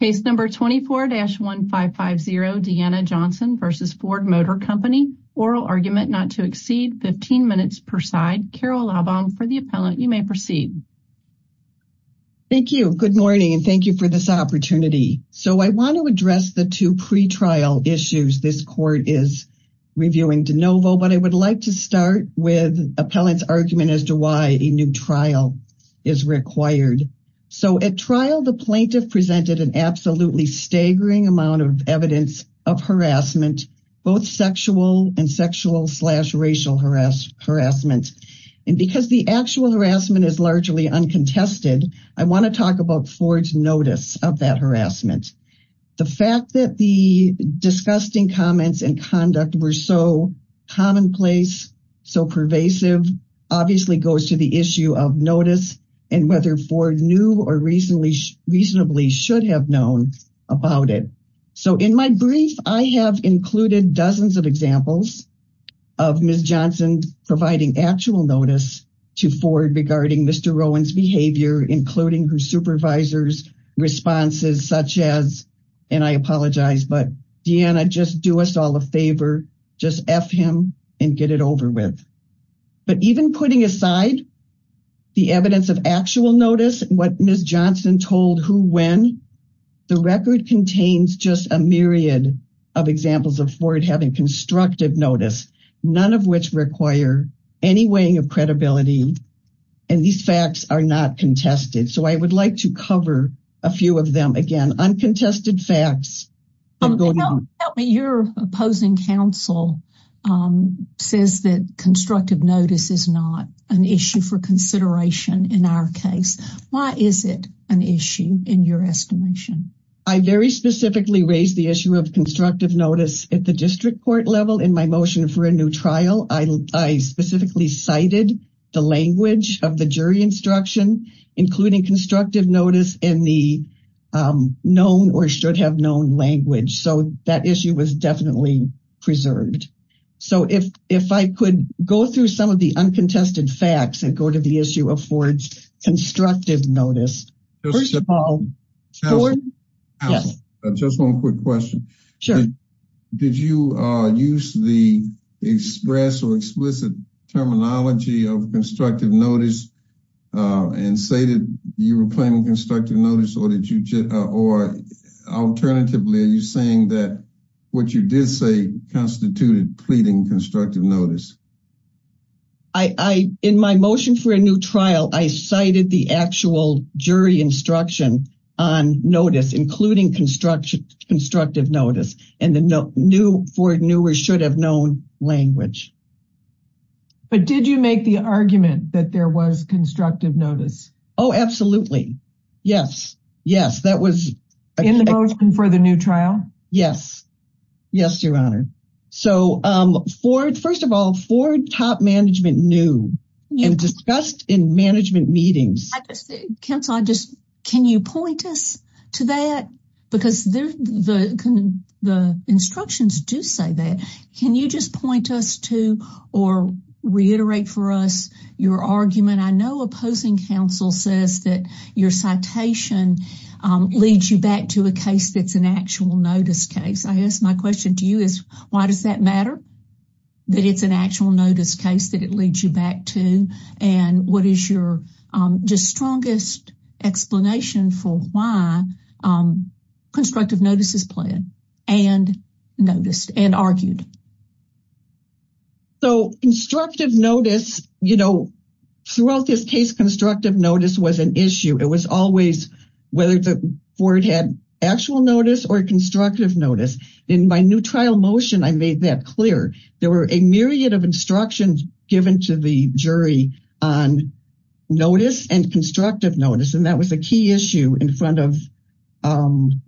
Case number 24-1550, Deanna Johnson v. Ford Motor Company. Oral argument not to exceed 15 minutes per side. Carol Lobbaum for the appellant. You may proceed. Thank you. Good morning and thank you for this opportunity. So I want to address the two pre-trial issues this court is reviewing de novo, but I would like to start with appellant's argument as to why a new trial is required. So at the trial, the plaintiff presented an absolutely staggering amount of evidence of harassment, both sexual and sexual slash racial harassment. And because the actual harassment is largely uncontested, I want to talk about Ford's notice of that harassment. The fact that the disgusting comments and conduct were so commonplace, so pervasive, obviously goes to the issue of notice and whether Ford knew or reasonably should have known about it. So in my brief, I have included dozens of examples of Ms. Johnson providing actual notice to Ford regarding Mr. Rowan's behavior, including her supervisor's responses such as, and I apologize, but Deanna, just do us all a favor, just F him and get it over with. But even putting aside the evidence of actual notice, what Ms. Johnson told who, when, the record contains just a myriad of examples of Ford having constructive notice, none of which require any weighing of credibility. And these facts are not contested. So I would like to cover a few of them again, uncontested facts. Help me. Your opposing counsel says that constructive notice is not an issue for consideration in our case. Why is it an issue in your estimation? I very specifically raised the issue of constructive notice at the district court level in my motion for a new trial. I, I specifically cited the language of the jury instruction, including constructive notice and the known or should have known language. So that issue was definitely preserved. So if, if I could go through some of the uncontested facts that go to the issue of Ford's constructive notice. First of all, just one quick question. Sure. Did you use the express or explicit terminology of constructive notice and say that you were playing constructive notice or did you, or alternatively, are you saying that what you did say constituted pleading constructive notice? I, I, in my motion for a new trial, I cited the actual jury instruction on notice, including construction, constructive notice, and the new Ford newer should have known language. But did you make the argument that there was constructive notice? Oh, absolutely. Yes. Yes. That was in the motion for the new trial. Yes. Yes. Your honor. So for, first of all, for top management, new and discussed in management meetings, cancel. I just, can you point us to that? Because the, the, the instructions do say that. Can you just point us to, or reiterate for us your argument? I know opposing counsel says that your citation leads you back to a case. That's an actual notice case. I asked my question to you is, why does that matter? That it's an actual notice case that it leads you back to. And what is your just strongest explanation for why constructive notices plan and noticed and argued? So constructive notice, you know, throughout this case, constructive notice was an issue. It was always whether the Ford had actual notice or constructive notice in my new trial motion. I made that clear. There were a myriad of instructions given to the jury on notice and constructive notice. And that was a key issue in front of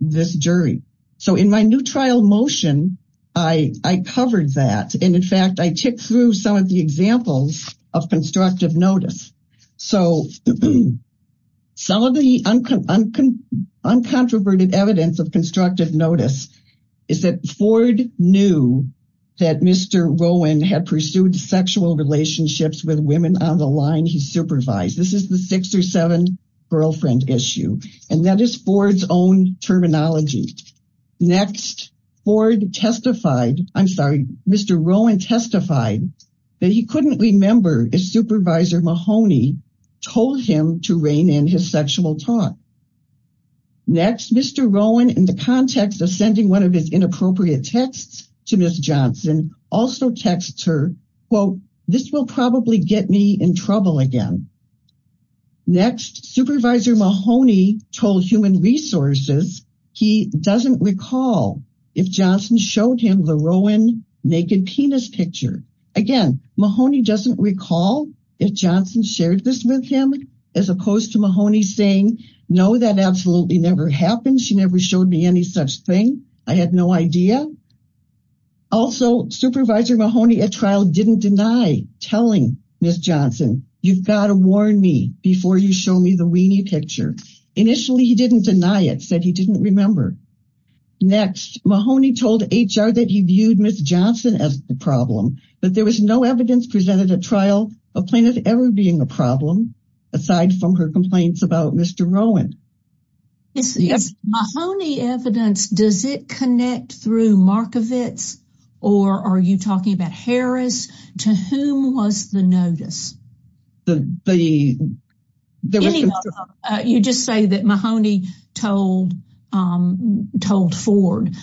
this jury. So in my new trial motion, I covered that. And in fact, I took through some of the examples of constructive notice. So some of the uncontroverted evidence of constructive notice is that Ford knew that Mr. Rowan had pursued sexual relationships with women on the line he supervised. This is the six or seven girlfriend issue. And that is Ford's own terminology. Next, Ford testified, I'm sorry, Mr. Rowan testified that he couldn't remember if Supervisor Mahoney told him to rein in his sexual talk. Next, Mr. Rowan, in the context of sending one of his inappropriate texts to Miss Johnson also texts her, quote, this will probably get me in trouble again. Next, Supervisor Mahoney told Human Resources, he doesn't recall if Johnson showed him the Rowan naked penis picture. Again, Mahoney doesn't recall if Johnson shared this with him, as opposed to Mahoney saying, no, that absolutely never happened. She never showed me any such thing. I had no idea. Also, Supervisor Mahoney at trial didn't deny telling Miss Johnson, you've got to warn me before you show me the weenie picture. Initially, he didn't deny it, said he didn't remember. Next, Mahoney told HR that he viewed Miss Johnson as the problem, but there was no evidence presented at trial of plaintiff ever being a problem, aside from her complaints about Mr. Rowan. Mahoney evidence, does it connect through Markovits? Or are you talking about Harris? To whom was the notice? You just say that Mahoney told Ford.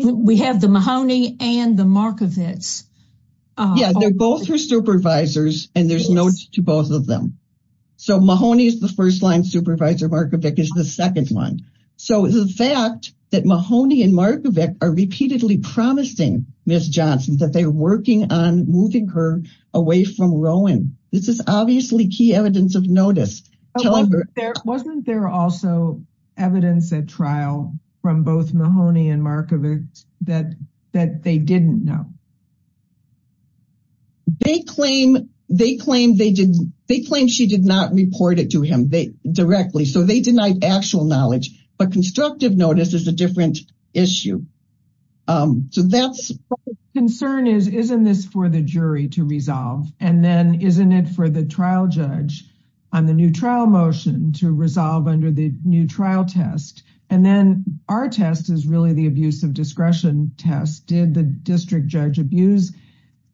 We have the Mahoney and the Markovits. Yeah, they're both her supervisors, and there's notes to both of them. So Mahoney is the first line, Supervisor Markovits is the second one. So the fact that Mahoney and Markovits are repeatedly promising Miss Johnson that they're working on moving her away from Rowan, this is obviously key evidence of notice. Wasn't there also evidence at trial from both Mahoney and Markovits that they didn't know? They claim she did not report it to him directly. So they denied actual knowledge, but constructive notice is a different issue. Concern is, isn't this for the jury to resolve? And then isn't it for the trial judge on the new trial motion to resolve under the new trial test? And then our test is really the abuse of discretion test. Did the district judge abuse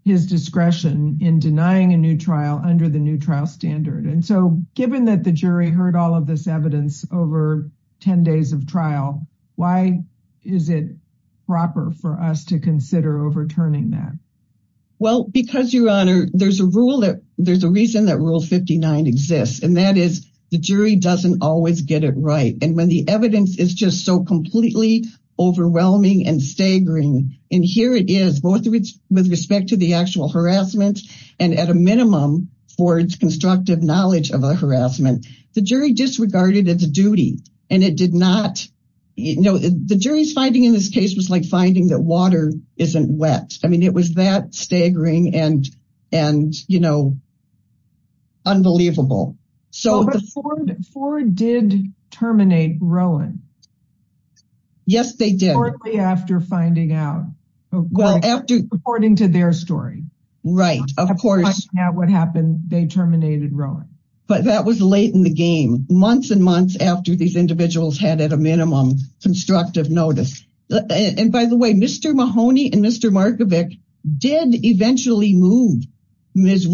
his discretion in denying a new trial under the new standard? And so given that the jury heard all of this evidence over 10 days of trial, why is it proper for us to consider overturning that? Well, because your honor, there's a rule that there's a reason that rule 59 exists, and that is the jury doesn't always get it right. And when the evidence is just so completely overwhelming and staggering, and here it is both with respect to the actual harassment, and at a minimum for its constructive knowledge of a harassment, the jury disregarded its duty. And it did not, you know, the jury's finding in this case was like finding that water isn't wet. I mean, it was that staggering and, and, you know, unbelievable. Ford did terminate Rowan. Yes, they did. Shortly after finding out. Well, after According to their story. Right, of course. At what happened, they terminated Rowan. But that was late in the game, months and months after these individuals had at a minimum constructive notice. And by the way, Mr. Mahoney and Mr. Markovic did eventually move Ms.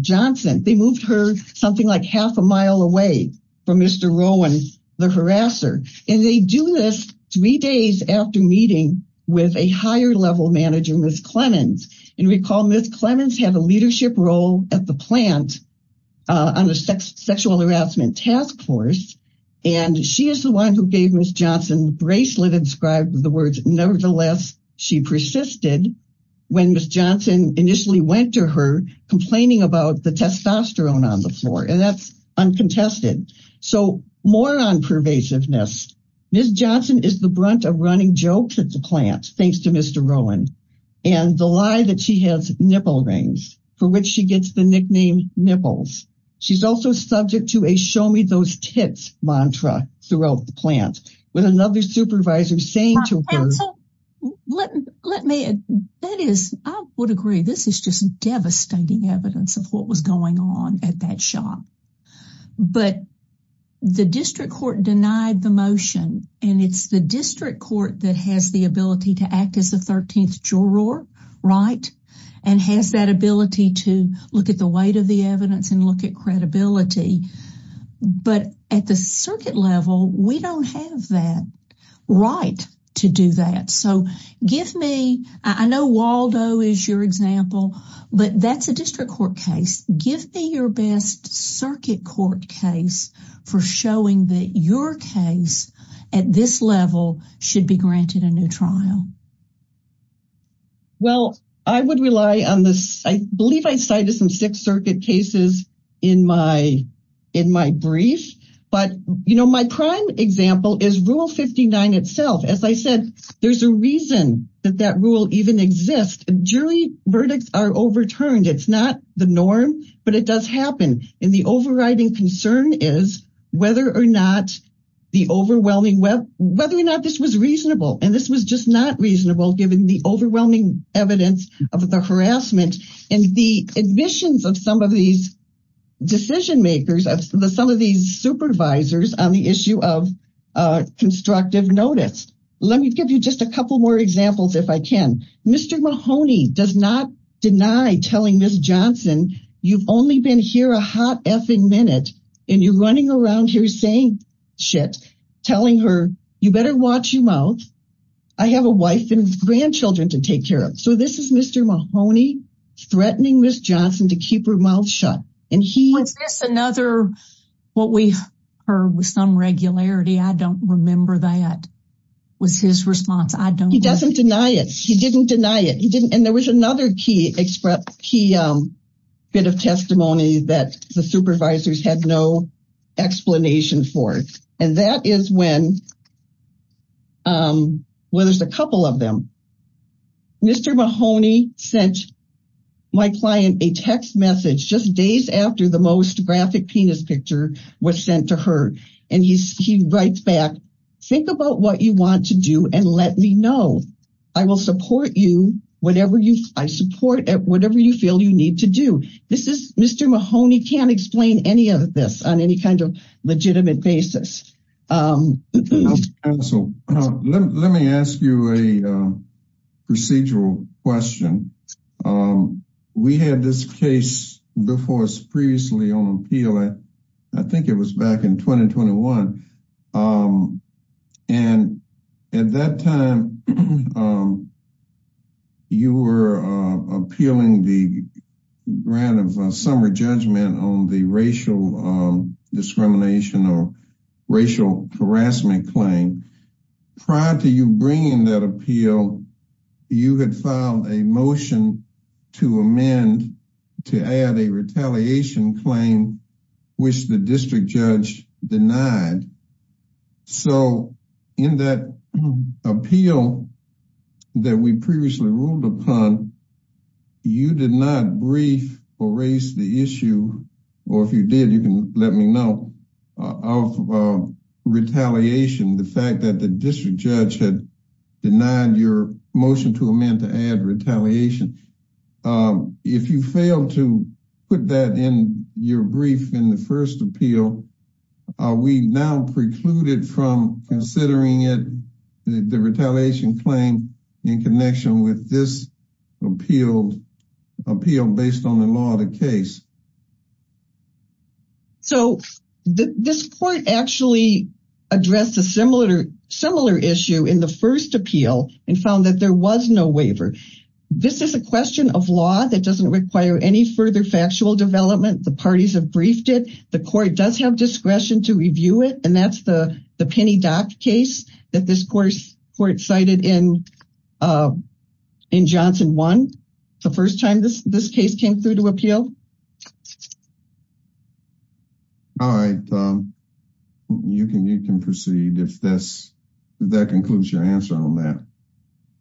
Johnson, they moved her something like half a mile away from Mr. Rowan, the harasser. And they do this three days after meeting with a higher level manager, Ms. Clemmons. And recall Ms. Clemmons had a leadership role at the plant on the sexual harassment task force. And she is the one who gave Ms. Johnson bracelet inscribed with the words, nevertheless, she persisted. When Ms. Johnson initially went to her complaining about the testosterone on the floor, that's uncontested. So more on pervasiveness. Ms. Johnson is the brunt of running jokes at the plant, thanks to Mr. Rowan. And the lie that she has nipple rings for which she gets the nickname nipples. She's also subject to a show me those tits mantra throughout the plant. With another supervisor saying to her. Let me, that is, I would agree. This is just devastating evidence of what was going on at that shop. But the district court denied the motion. And it's the district court that has the ability to act as the 13th juror, right? And has that ability to look at the weight of the evidence and look at credibility. But at the circuit level, we don't have that right to do that. So give me, I know Waldo is your example, but that's a district court case. Give me your best circuit court case for showing that your case at this level should be granted a new trial. Well, I would rely on this. I believe I cited some Sixth Circuit cases in my brief. But, you know, my prime example is Rule 59 itself. As I said, there's a reason that that rule even exists. Jury verdicts are overturned. It's not the norm, but it does happen. And the overriding concern is whether or not the overwhelming web, whether or not this was reasonable. And this was just not reasonable, given the overwhelming evidence of the harassment and the admissions of some of these decision makers, some of these supervisors on the issue of constructive notice. Let me give you just a couple more examples, if I can. Mr. Mahoney does not deny telling Ms. Johnson, you've only been here a hot effing minute. And you're running around here saying shit, telling her, you better watch your mouth. I have a wife and grandchildren to take care of. So this is Mr. Mahoney threatening Ms. Johnson to keep her mouth shut. And he- Was this another, what we heard with some regularity? I don't remember that was his response. He doesn't deny it. He didn't deny it. He didn't, and there was another key bit of testimony that the supervisors had no explanation for it. And that is when, well, there's a couple of them. Mr. Mahoney sent my client a text message just days after the most graphic penis picture was sent to her. And he writes back, think about what you want to do and let me know. I will support you, whatever you, I support whatever you feel you need to do. This is, Mr. Mahoney can't explain any of this on any kind of legitimate basis. Let me ask you a procedural question. We had this case before us previously on appeal. I think it was back in 2021. And at that time, you were appealing the grant of a summer judgment on the racial discrimination or racial harassment claim. Prior to you bringing that appeal, you had filed a motion to amend, to add a retaliation claim, which the district judge denied. So in that appeal that we previously ruled upon, you did not brief or raise the issue, or if you did, you can let me know, of retaliation, the fact that the district judge had denied your motion to amend to add retaliation. Um, if you fail to put that in your brief in the first appeal, we now precluded from considering it the retaliation claim in connection with this appeal based on the law of the case. So this court actually addressed a similar issue in the first appeal and found that there was no waiver. This is a question of law that doesn't require any further factual development. The parties have briefed it. The court does have discretion to review it. And that's the Penny Dock case that this court cited in Johnson 1, the first time this case came through to appeal. All right, you can proceed if that concludes your answer on that.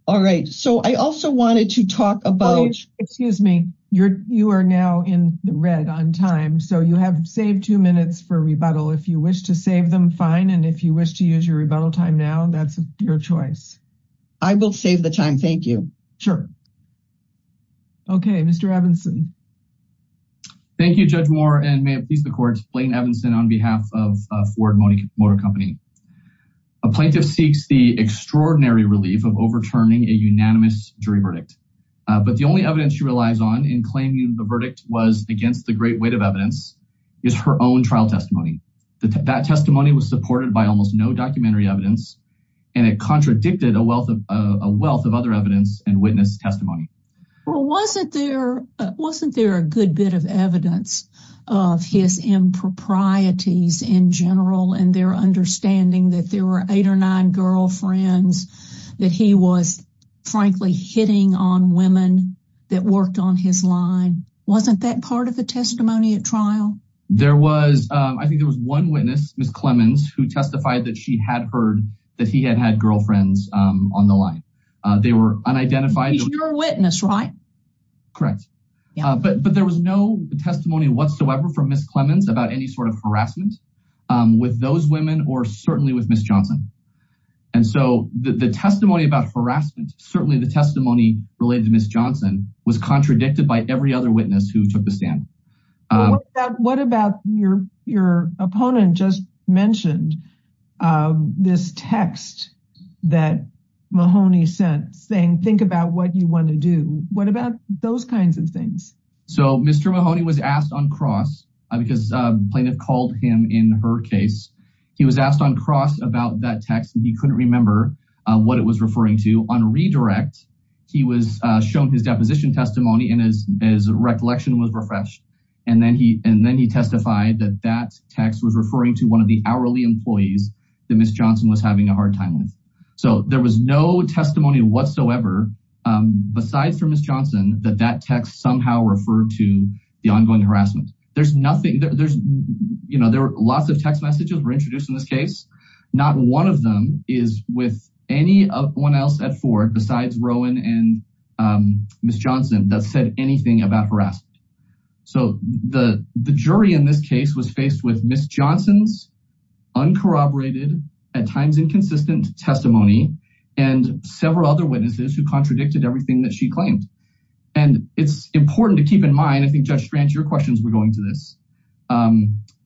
All right. So I also wanted to talk about... Excuse me. You are now in the red on time. So you have saved two minutes for rebuttal. If you wish to save them, fine. And if you wish to use your rebuttal time now, that's your choice. I will save the time. Thank you. Sure. Okay, Mr. Evanson. Thank you, Judge Moore, and may it please the court, Blaine Evanson on behalf of Ford Motor Company. A plaintiff seeks the extraordinary relief of overturning a unanimous jury verdict. But the only evidence she relies on in claiming the verdict was against the great weight of evidence is her own trial testimony. That testimony was supported by almost no documentary evidence, and it contradicted a wealth of other evidence and witness testimony. Well, wasn't there a good bit of evidence of his improprieties in general and their understanding that there were eight or nine girlfriends that he was, frankly, hitting on women that worked on his line? Wasn't that part of the testimony at trial? There was. I think there was one witness, Ms. Clemons, who testified that she had heard that he had had girlfriends on the line. They were unidentified. He's your witness, right? Correct. But there was no testimony whatsoever from Ms. Clemons about any sort of harassment with those women or certainly with Ms. Johnson. And so the testimony about harassment, certainly the testimony related to Ms. Johnson, was contradicted by every other witness who took the stand. What about your opponent just mentioned this text that Mahoney sent saying, think about what you want to do. What about those kinds of things? So Mr. Mahoney was asked on cross because a plaintiff called him in her case. He was asked on cross about that text, and he couldn't remember what it was referring to. On redirect, he was shown his deposition testimony, and his recollection was refreshed. And then he testified that that text was referring to one of the hourly employees that Ms. Johnson was having a hard time with. So there was no testimony whatsoever besides for Ms. Johnson that that text somehow referred to the ongoing harassment. There were lots of text messages were introduced in this case. Not one of them is with anyone else at Ford besides Rowan and Ms. Johnson that said anything about harassment. So the jury in this case was faced with Ms. Johnson's uncorroborated, at times inconsistent testimony, and several other witnesses who contradicted everything that she claimed. And it's important to keep in mind, I think, Judge Strange, your questions were going to this,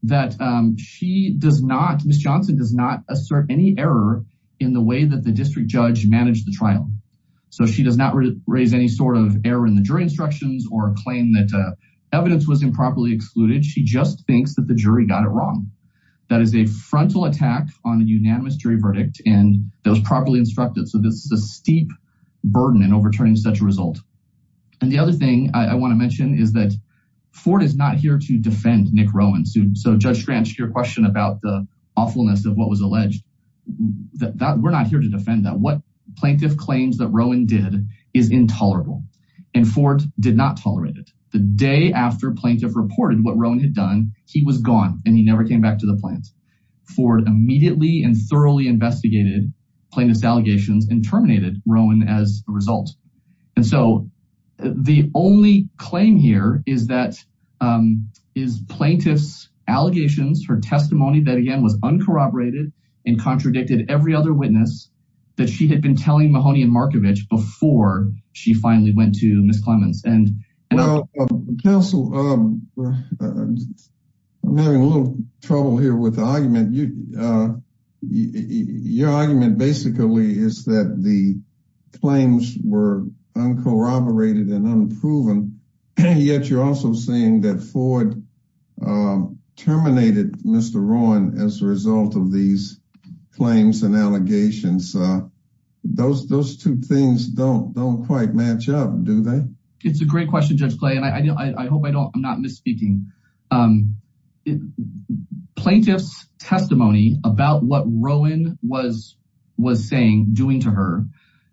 that she does not, Ms. Johnson does not assert any error in the way that the district judge managed the trial. So she does not raise any sort of error in the jury instructions or claim that evidence was improperly excluded. She just thinks that the jury got it wrong. That is a frontal attack on a unanimous jury verdict, and that was properly instructed. So this is a steep burden in overturning such a result. And the other thing I want to mention is that Ford is not here to defend Nick Rowan. So Judge Strange, your question about the awfulness of what was alleged, we're not here to defend that. What plaintiff claims that Rowan did is intolerable, and Ford did not tolerate it. The day after plaintiff reported what Rowan had done, he was gone, and he never came back to the plant. Ford immediately and thoroughly investigated plaintiff's allegations and terminated Rowan as a result. And so the only claim here is that is plaintiff's allegations, her testimony that, again, was uncorroborated and contradicted every other witness that she had been telling Mahoney and Markovich before she finally went to Ms. Clements. And counsel, I'm having a little trouble here with the argument. Your argument basically is that the claims were uncorroborated and unproven, yet you're also saying that Ford terminated Mr. Rowan as a result of these claims and allegations. Those two things don't quite match up, do they? It's a great question, Judge Clay, and I hope I'm not misspeaking. Plaintiff's testimony about what Rowan was saying, doing to her,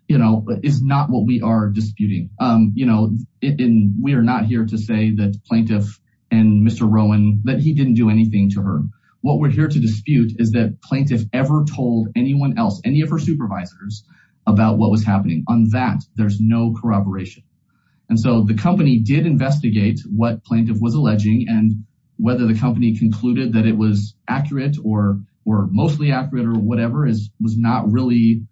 is not what we are disputing. We are not here to say that plaintiff and Mr. Rowan, that he didn't do anything to her. What we're here to dispute is that plaintiff ever told anyone else, any of her supervisors, about what was happening. On that, there's no corroboration. And so the company did investigate what plaintiff was alleging and whether the company concluded that it was accurate or mostly accurate or whatever was not really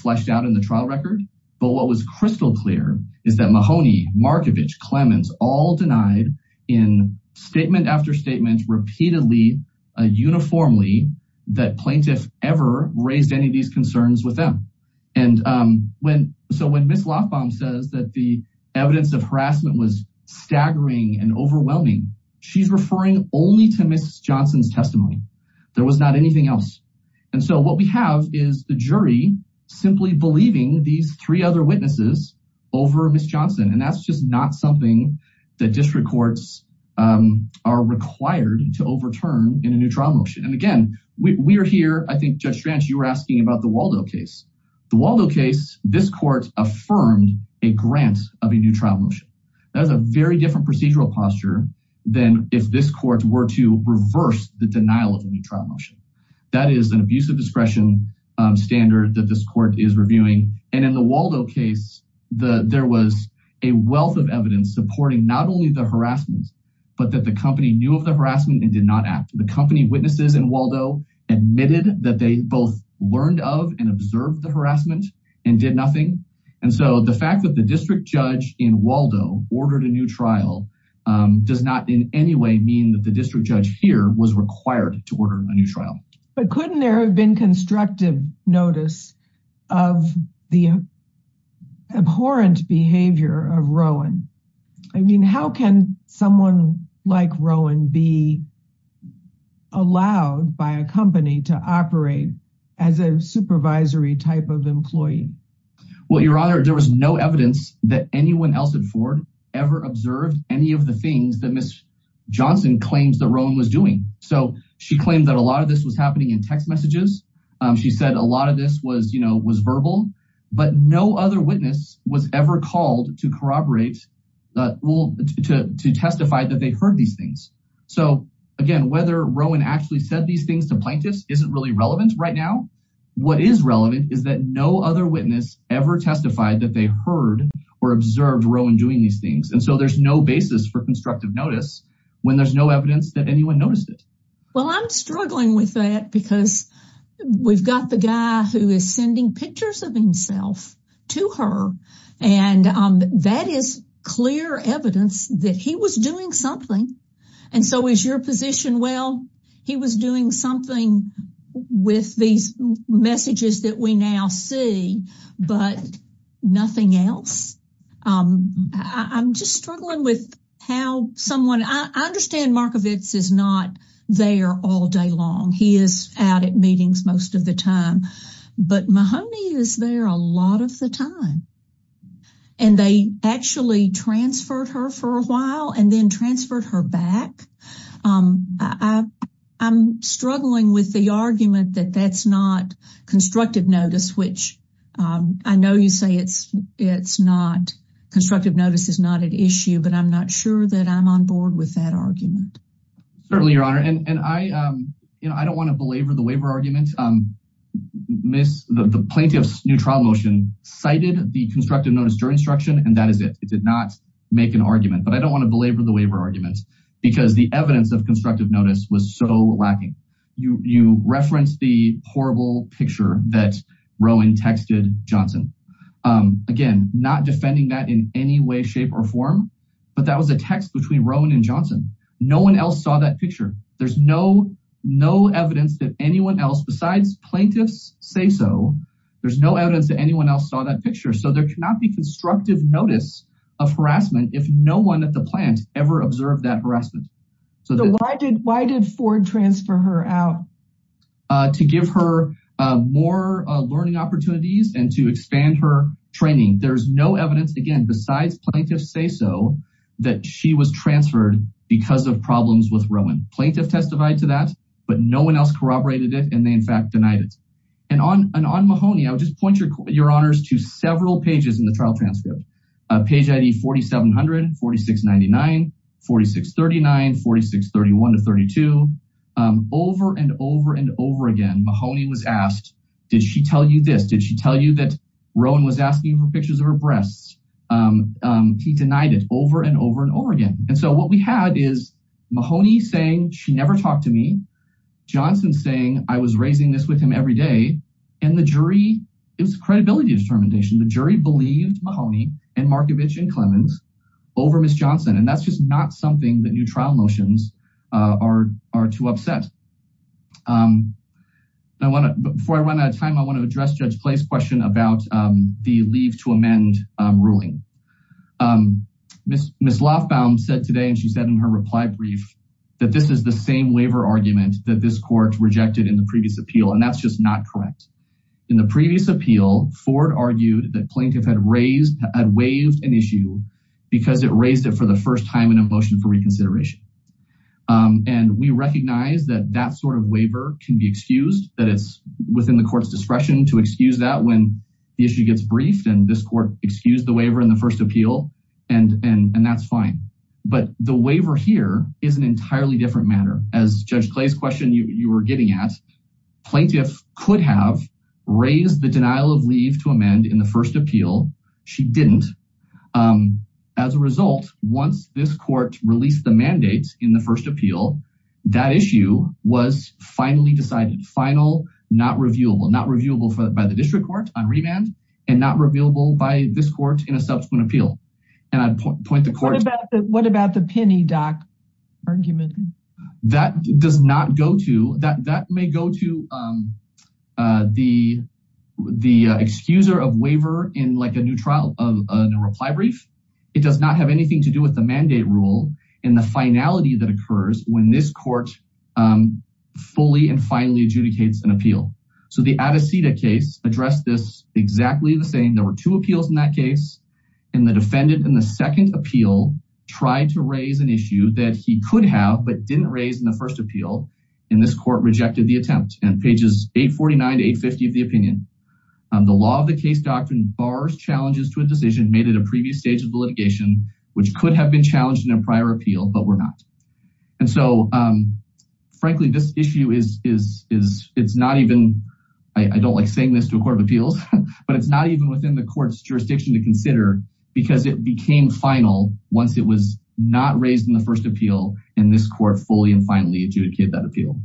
fleshed out in the trial record. But what was crystal clear is that Mahoney, Markovich, Clements, all denied in statement after statement, repeatedly, uniformly, that plaintiff ever raised any of these concerns with them. And so when Ms. Lofbaum says that the evidence of harassment was staggering and overwhelming, she's referring only to Ms. Johnson's testimony. There was not anything else. And so what we have is the jury simply believing these three other witnesses over Ms. Johnson. And that's just not something that district courts are required to overturn in a new trial motion. And again, we are here, I think, Judge Stranch, you were asking about the Waldo case. The Waldo case, this court affirmed a grant of a new trial motion. That was a very different procedural posture than if this court were to reverse the denial of a new trial motion. That is an abuse of discretion standard that this court is reviewing. And in the Waldo case, there was a wealth of evidence supporting not only the harassment, but that the company knew of the harassment and did not act. The company witnesses in Waldo admitted that they both learned of and observed the harassment and did nothing. And so the fact that the district judge in Waldo ordered a new trial does not in any way mean that the district judge here was required to order a new trial. But couldn't there have been constructive notice of the abhorrent behavior of Rowan? I mean, how can someone like Rowan be allowed by a company to operate as a supervisory type of employee? Well, Your Honor, there was no evidence that anyone else at Ford ever observed any of the things that Ms. Johnson claims that Rowan was doing. So she claimed that a lot of this was happening in text messages. She said a lot of this was verbal, but no other witness was ever called to corroborate, to testify that they heard these things. So again, whether Rowan actually said these things to plaintiffs isn't really relevant right now. What is relevant is that no other witness ever testified that they heard or observed Rowan doing these things. And so there's no basis for constructive notice when there's no evidence that anyone noticed it. Well, I'm struggling with that because we've got the guy who is sending pictures of himself to her, and that is clear evidence that he was doing something. And so is your position, well, he was doing something with these messages that we now see, but nothing else? I'm just struggling with how someone... I understand Markovits is not there all day long. He is out at meetings most of the time, but Mahoney is there a lot of the time. And they actually transferred her for a while and then transferred her back. I'm struggling with the argument that that's not constructive notice, which I know you say it's not... Constructive notice is not an issue, but I'm not sure that I'm on board with that argument. Certainly, Your Honor. And I don't want to belabor the waiver argument. The plaintiff's new trial motion cited the constructive notice during instruction, and that is it. It did not make an argument, but I don't want to belabor the waiver argument because the evidence of constructive notice was so lacking. You referenced the horrible picture that Rowan texted Johnson. Again, not defending that in any way, shape or form, but that was a text between Rowan and Johnson. No one else saw that picture. There's no evidence that anyone else, besides plaintiffs say so, there's no evidence that anyone else saw that picture. So there cannot be constructive notice of harassment if no one at the plant ever observed that harassment. Why did Ford transfer her out? To give her more learning opportunities and to expand her training. There's no evidence, again, besides plaintiffs say so, that she was transferred because of problems with Rowan. Plaintiff testified to that, but no one else corroborated it, and they in fact denied it. And on Mahoney, I would just point Your Honors to several pages in the trial transcript. Page ID 4700, 4699, 4639, 4631 to 32. Over and over and over again, Mahoney was asked, did she tell you this? Did she tell you that Rowan was asking for pictures of her breasts? He denied it over and over and over again. And so what we had is Mahoney saying, she never talked to me. Johnson saying, I was raising this with him every day. And the jury, it was credibility of determination. The jury believed Mahoney and Markovich and Clemons over Ms. Johnson. And that's just not something that new trial motions are too upset. Before I run out of time, I want to address Judge Clay's question about the leave to amend ruling. Ms. Lofbaum said today, and she said in her reply brief, that this is the same waiver argument that this court rejected in the previous appeal. And that's just not correct. In the previous appeal, Ford argued that plaintiff had raised, had waived an issue because it raised it for the first time in a motion for reconsideration. And we recognize that that sort of waiver can be excused, that it's within the court's discretion to excuse that when the issue gets briefed, and this court excused the waiver in the first appeal, and that's fine. But the waiver here is an entirely different matter. As Judge Clay's question, you were getting at, plaintiff could have raised the denial of leave to amend in the first appeal. She didn't. As a result, once this court released the mandate in the first appeal, that issue was finally decided, final, not reviewable. Not reviewable by the district court on remand, and not reviewable by this court in a subsequent appeal. And I'd point the court- What about the penny dock argument? That does not go to, that may go to the excuser of waiver in like a new trial of a new reply brief. It does not have anything to do with the mandate rule and the finality that occurs when this court fully and finally adjudicates an appeal. So the Adecita case addressed this exactly the same. There were two appeals in that case, and the defendant in the second appeal tried to raise an issue that he could have, but didn't raise in the first appeal, and this court rejected the attempt. And pages 849 to 850 of the opinion, the law of the case doctrine bars challenges to a decision made at a previous stage of the litigation, which could have been challenged in a prior appeal, but were not. And so, frankly, this issue is, it's not even, I don't like saying this to a court of appeals, but it's not even within the court's jurisdiction to consider because it became final once it was not raised in the first appeal, and this court fully and finally adjudicated that appeal.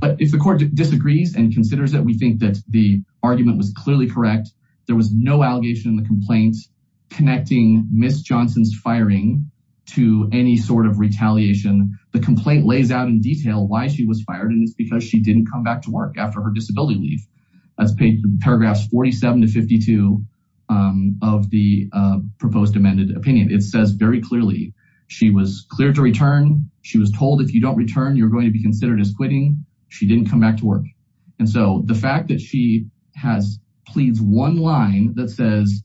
But if the court disagrees and considers it, we think that the argument was clearly correct. There was no allegation in the complaints connecting Ms. Johnson's firing to any sort of retaliation. The complaint lays out in detail why she was fired, and it's because she didn't come back to work after her disability leave. That's paragraphs 47 to 52 of the proposed amended opinion. It says very clearly, she was cleared to return. She was told if you don't return, you're going to be considered as quitting. She didn't come back to work. And so the fact that she has pleads one line that says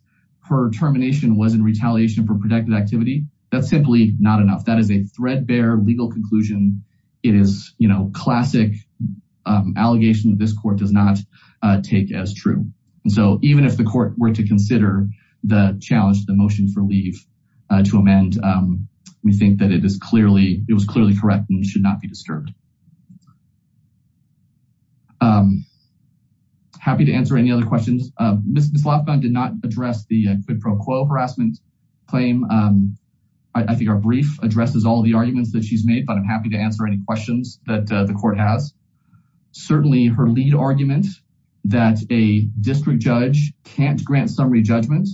her termination was in retaliation for protected activity, that's simply not enough. That is a threadbare legal conclusion. It is classic allegation that this court does not take as true. So even if the court were to consider the challenge, the motion for leave to amend, we think that it was clearly correct and should not be disturbed. Happy to answer any other questions. Ms. Lofgren did not address the quid pro quo harassment claim. I think our brief addresses all the arguments that she's made, but I'm happy to answer any questions that the court has. Certainly her lead argument that a district judge can't grant summary judgment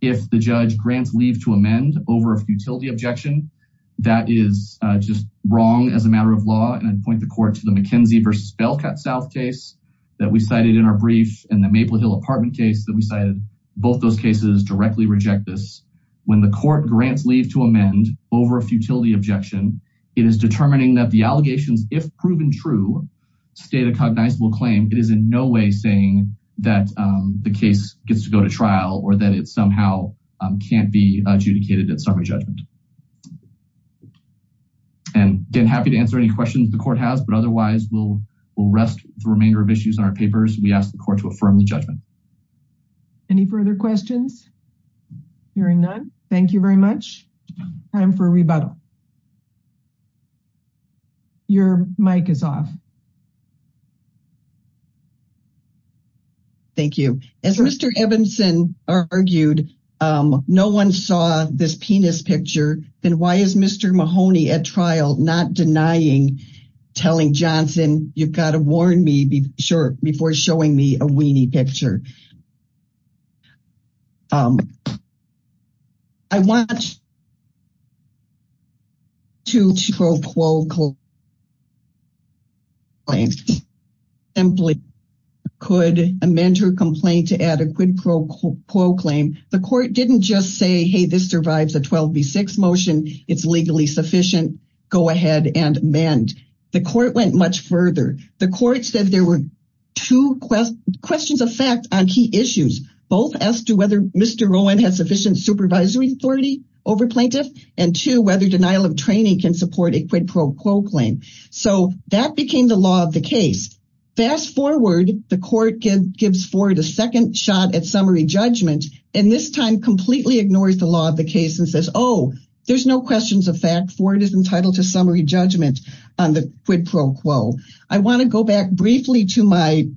if the judge grants leave to amend over a futility objection, that is just wrong as a matter of law. And I'd point the court to the McKenzie versus Belk at South case that we cited in our brief and the Maple Hill apartment case that we cited. Both those cases directly reject this. When the court grants leave to amend over a futility objection, it is determining that the allegations, if proven true, state a cognizable claim. It is in no way saying that the case gets to go to trial or that it somehow can't be adjudicated at summary judgment. And again, happy to answer any questions the court has, but otherwise we'll rest the remainder of issues in our papers. We ask the court to affirm the judgment. Any further questions? Hearing none. Thank you very much. Time for a rebuttal. Your mic is off. Thank you. As Mr. Evanson argued, no one saw this penis picture, then why is Mr. Mahoney at trial not denying, telling Johnson, you've got to warn me before showing me a weenie picture. I want to quote, simply could amend her complaint to add a quid pro quo claim. The court didn't just say, hey, this survives a 12 v six motion. It's legally sufficient. Go ahead and mend. The court went much further. The court said there were two questions of fact on key issues, both as to whether Mr. Rowan has sufficient supervisory authority over plaintiff and to whether denial of training can support a quid pro quo claim. So that became the law of the case. Fast forward, the court gives forward a second shot at summary judgment. This time completely ignores the law of the case and says, oh, there's no questions of fact for it is entitled to summary judgment on the quid pro quo. I want to go back briefly to my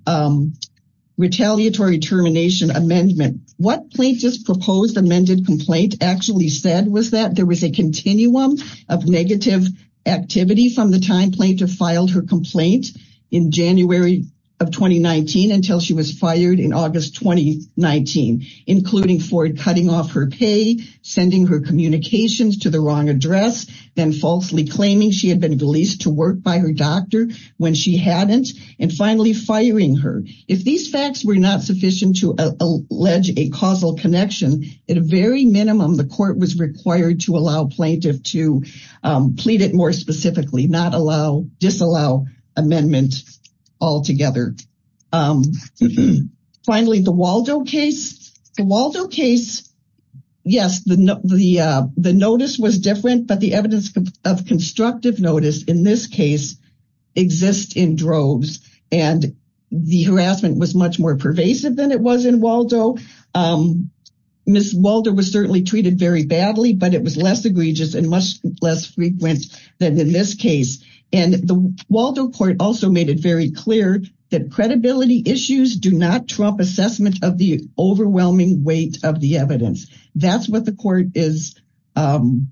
retaliatory termination amendment. What plaintiff's proposed amended complaint actually said was that there was a continuum of negative activity from the time plaintiff filed her complaint in January of 2019 until she was fired in August 2019. Including Ford cutting off her pay, sending her communications to the wrong address, then falsely claiming she had been released to work by her doctor when she hadn't. And finally, firing her. If these facts were not sufficient to allege a causal connection, at a very minimum, the court was required to allow plaintiff to plead it more specifically, not allow, disallow amendment altogether. Um, finally, the Waldo case, the Waldo case. Yes, the, the, uh, the notice was different, but the evidence of constructive notice in this case exists in droves and the harassment was much more pervasive than it was in Waldo. Um, Ms. Waldo was certainly treated very badly, but it was less egregious and much less frequent than in this case. And the Waldo court also made it very clear that credibility issues do not trump assessment of the overwhelming weight of the evidence. That's what the court is, um,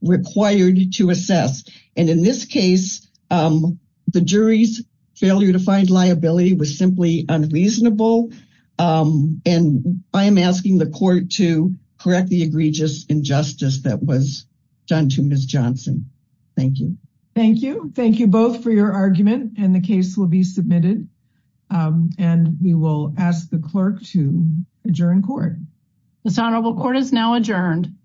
required to assess. And in this case, um, the jury's failure to find liability was simply unreasonable. Um, and I'm asking the court to correct the egregious injustice that was done to Ms. Johnson. Thank you. Thank you. Thank you both for your argument and the case will be submitted. Um, and we will ask the clerk to adjourn court. This honorable court is now adjourned.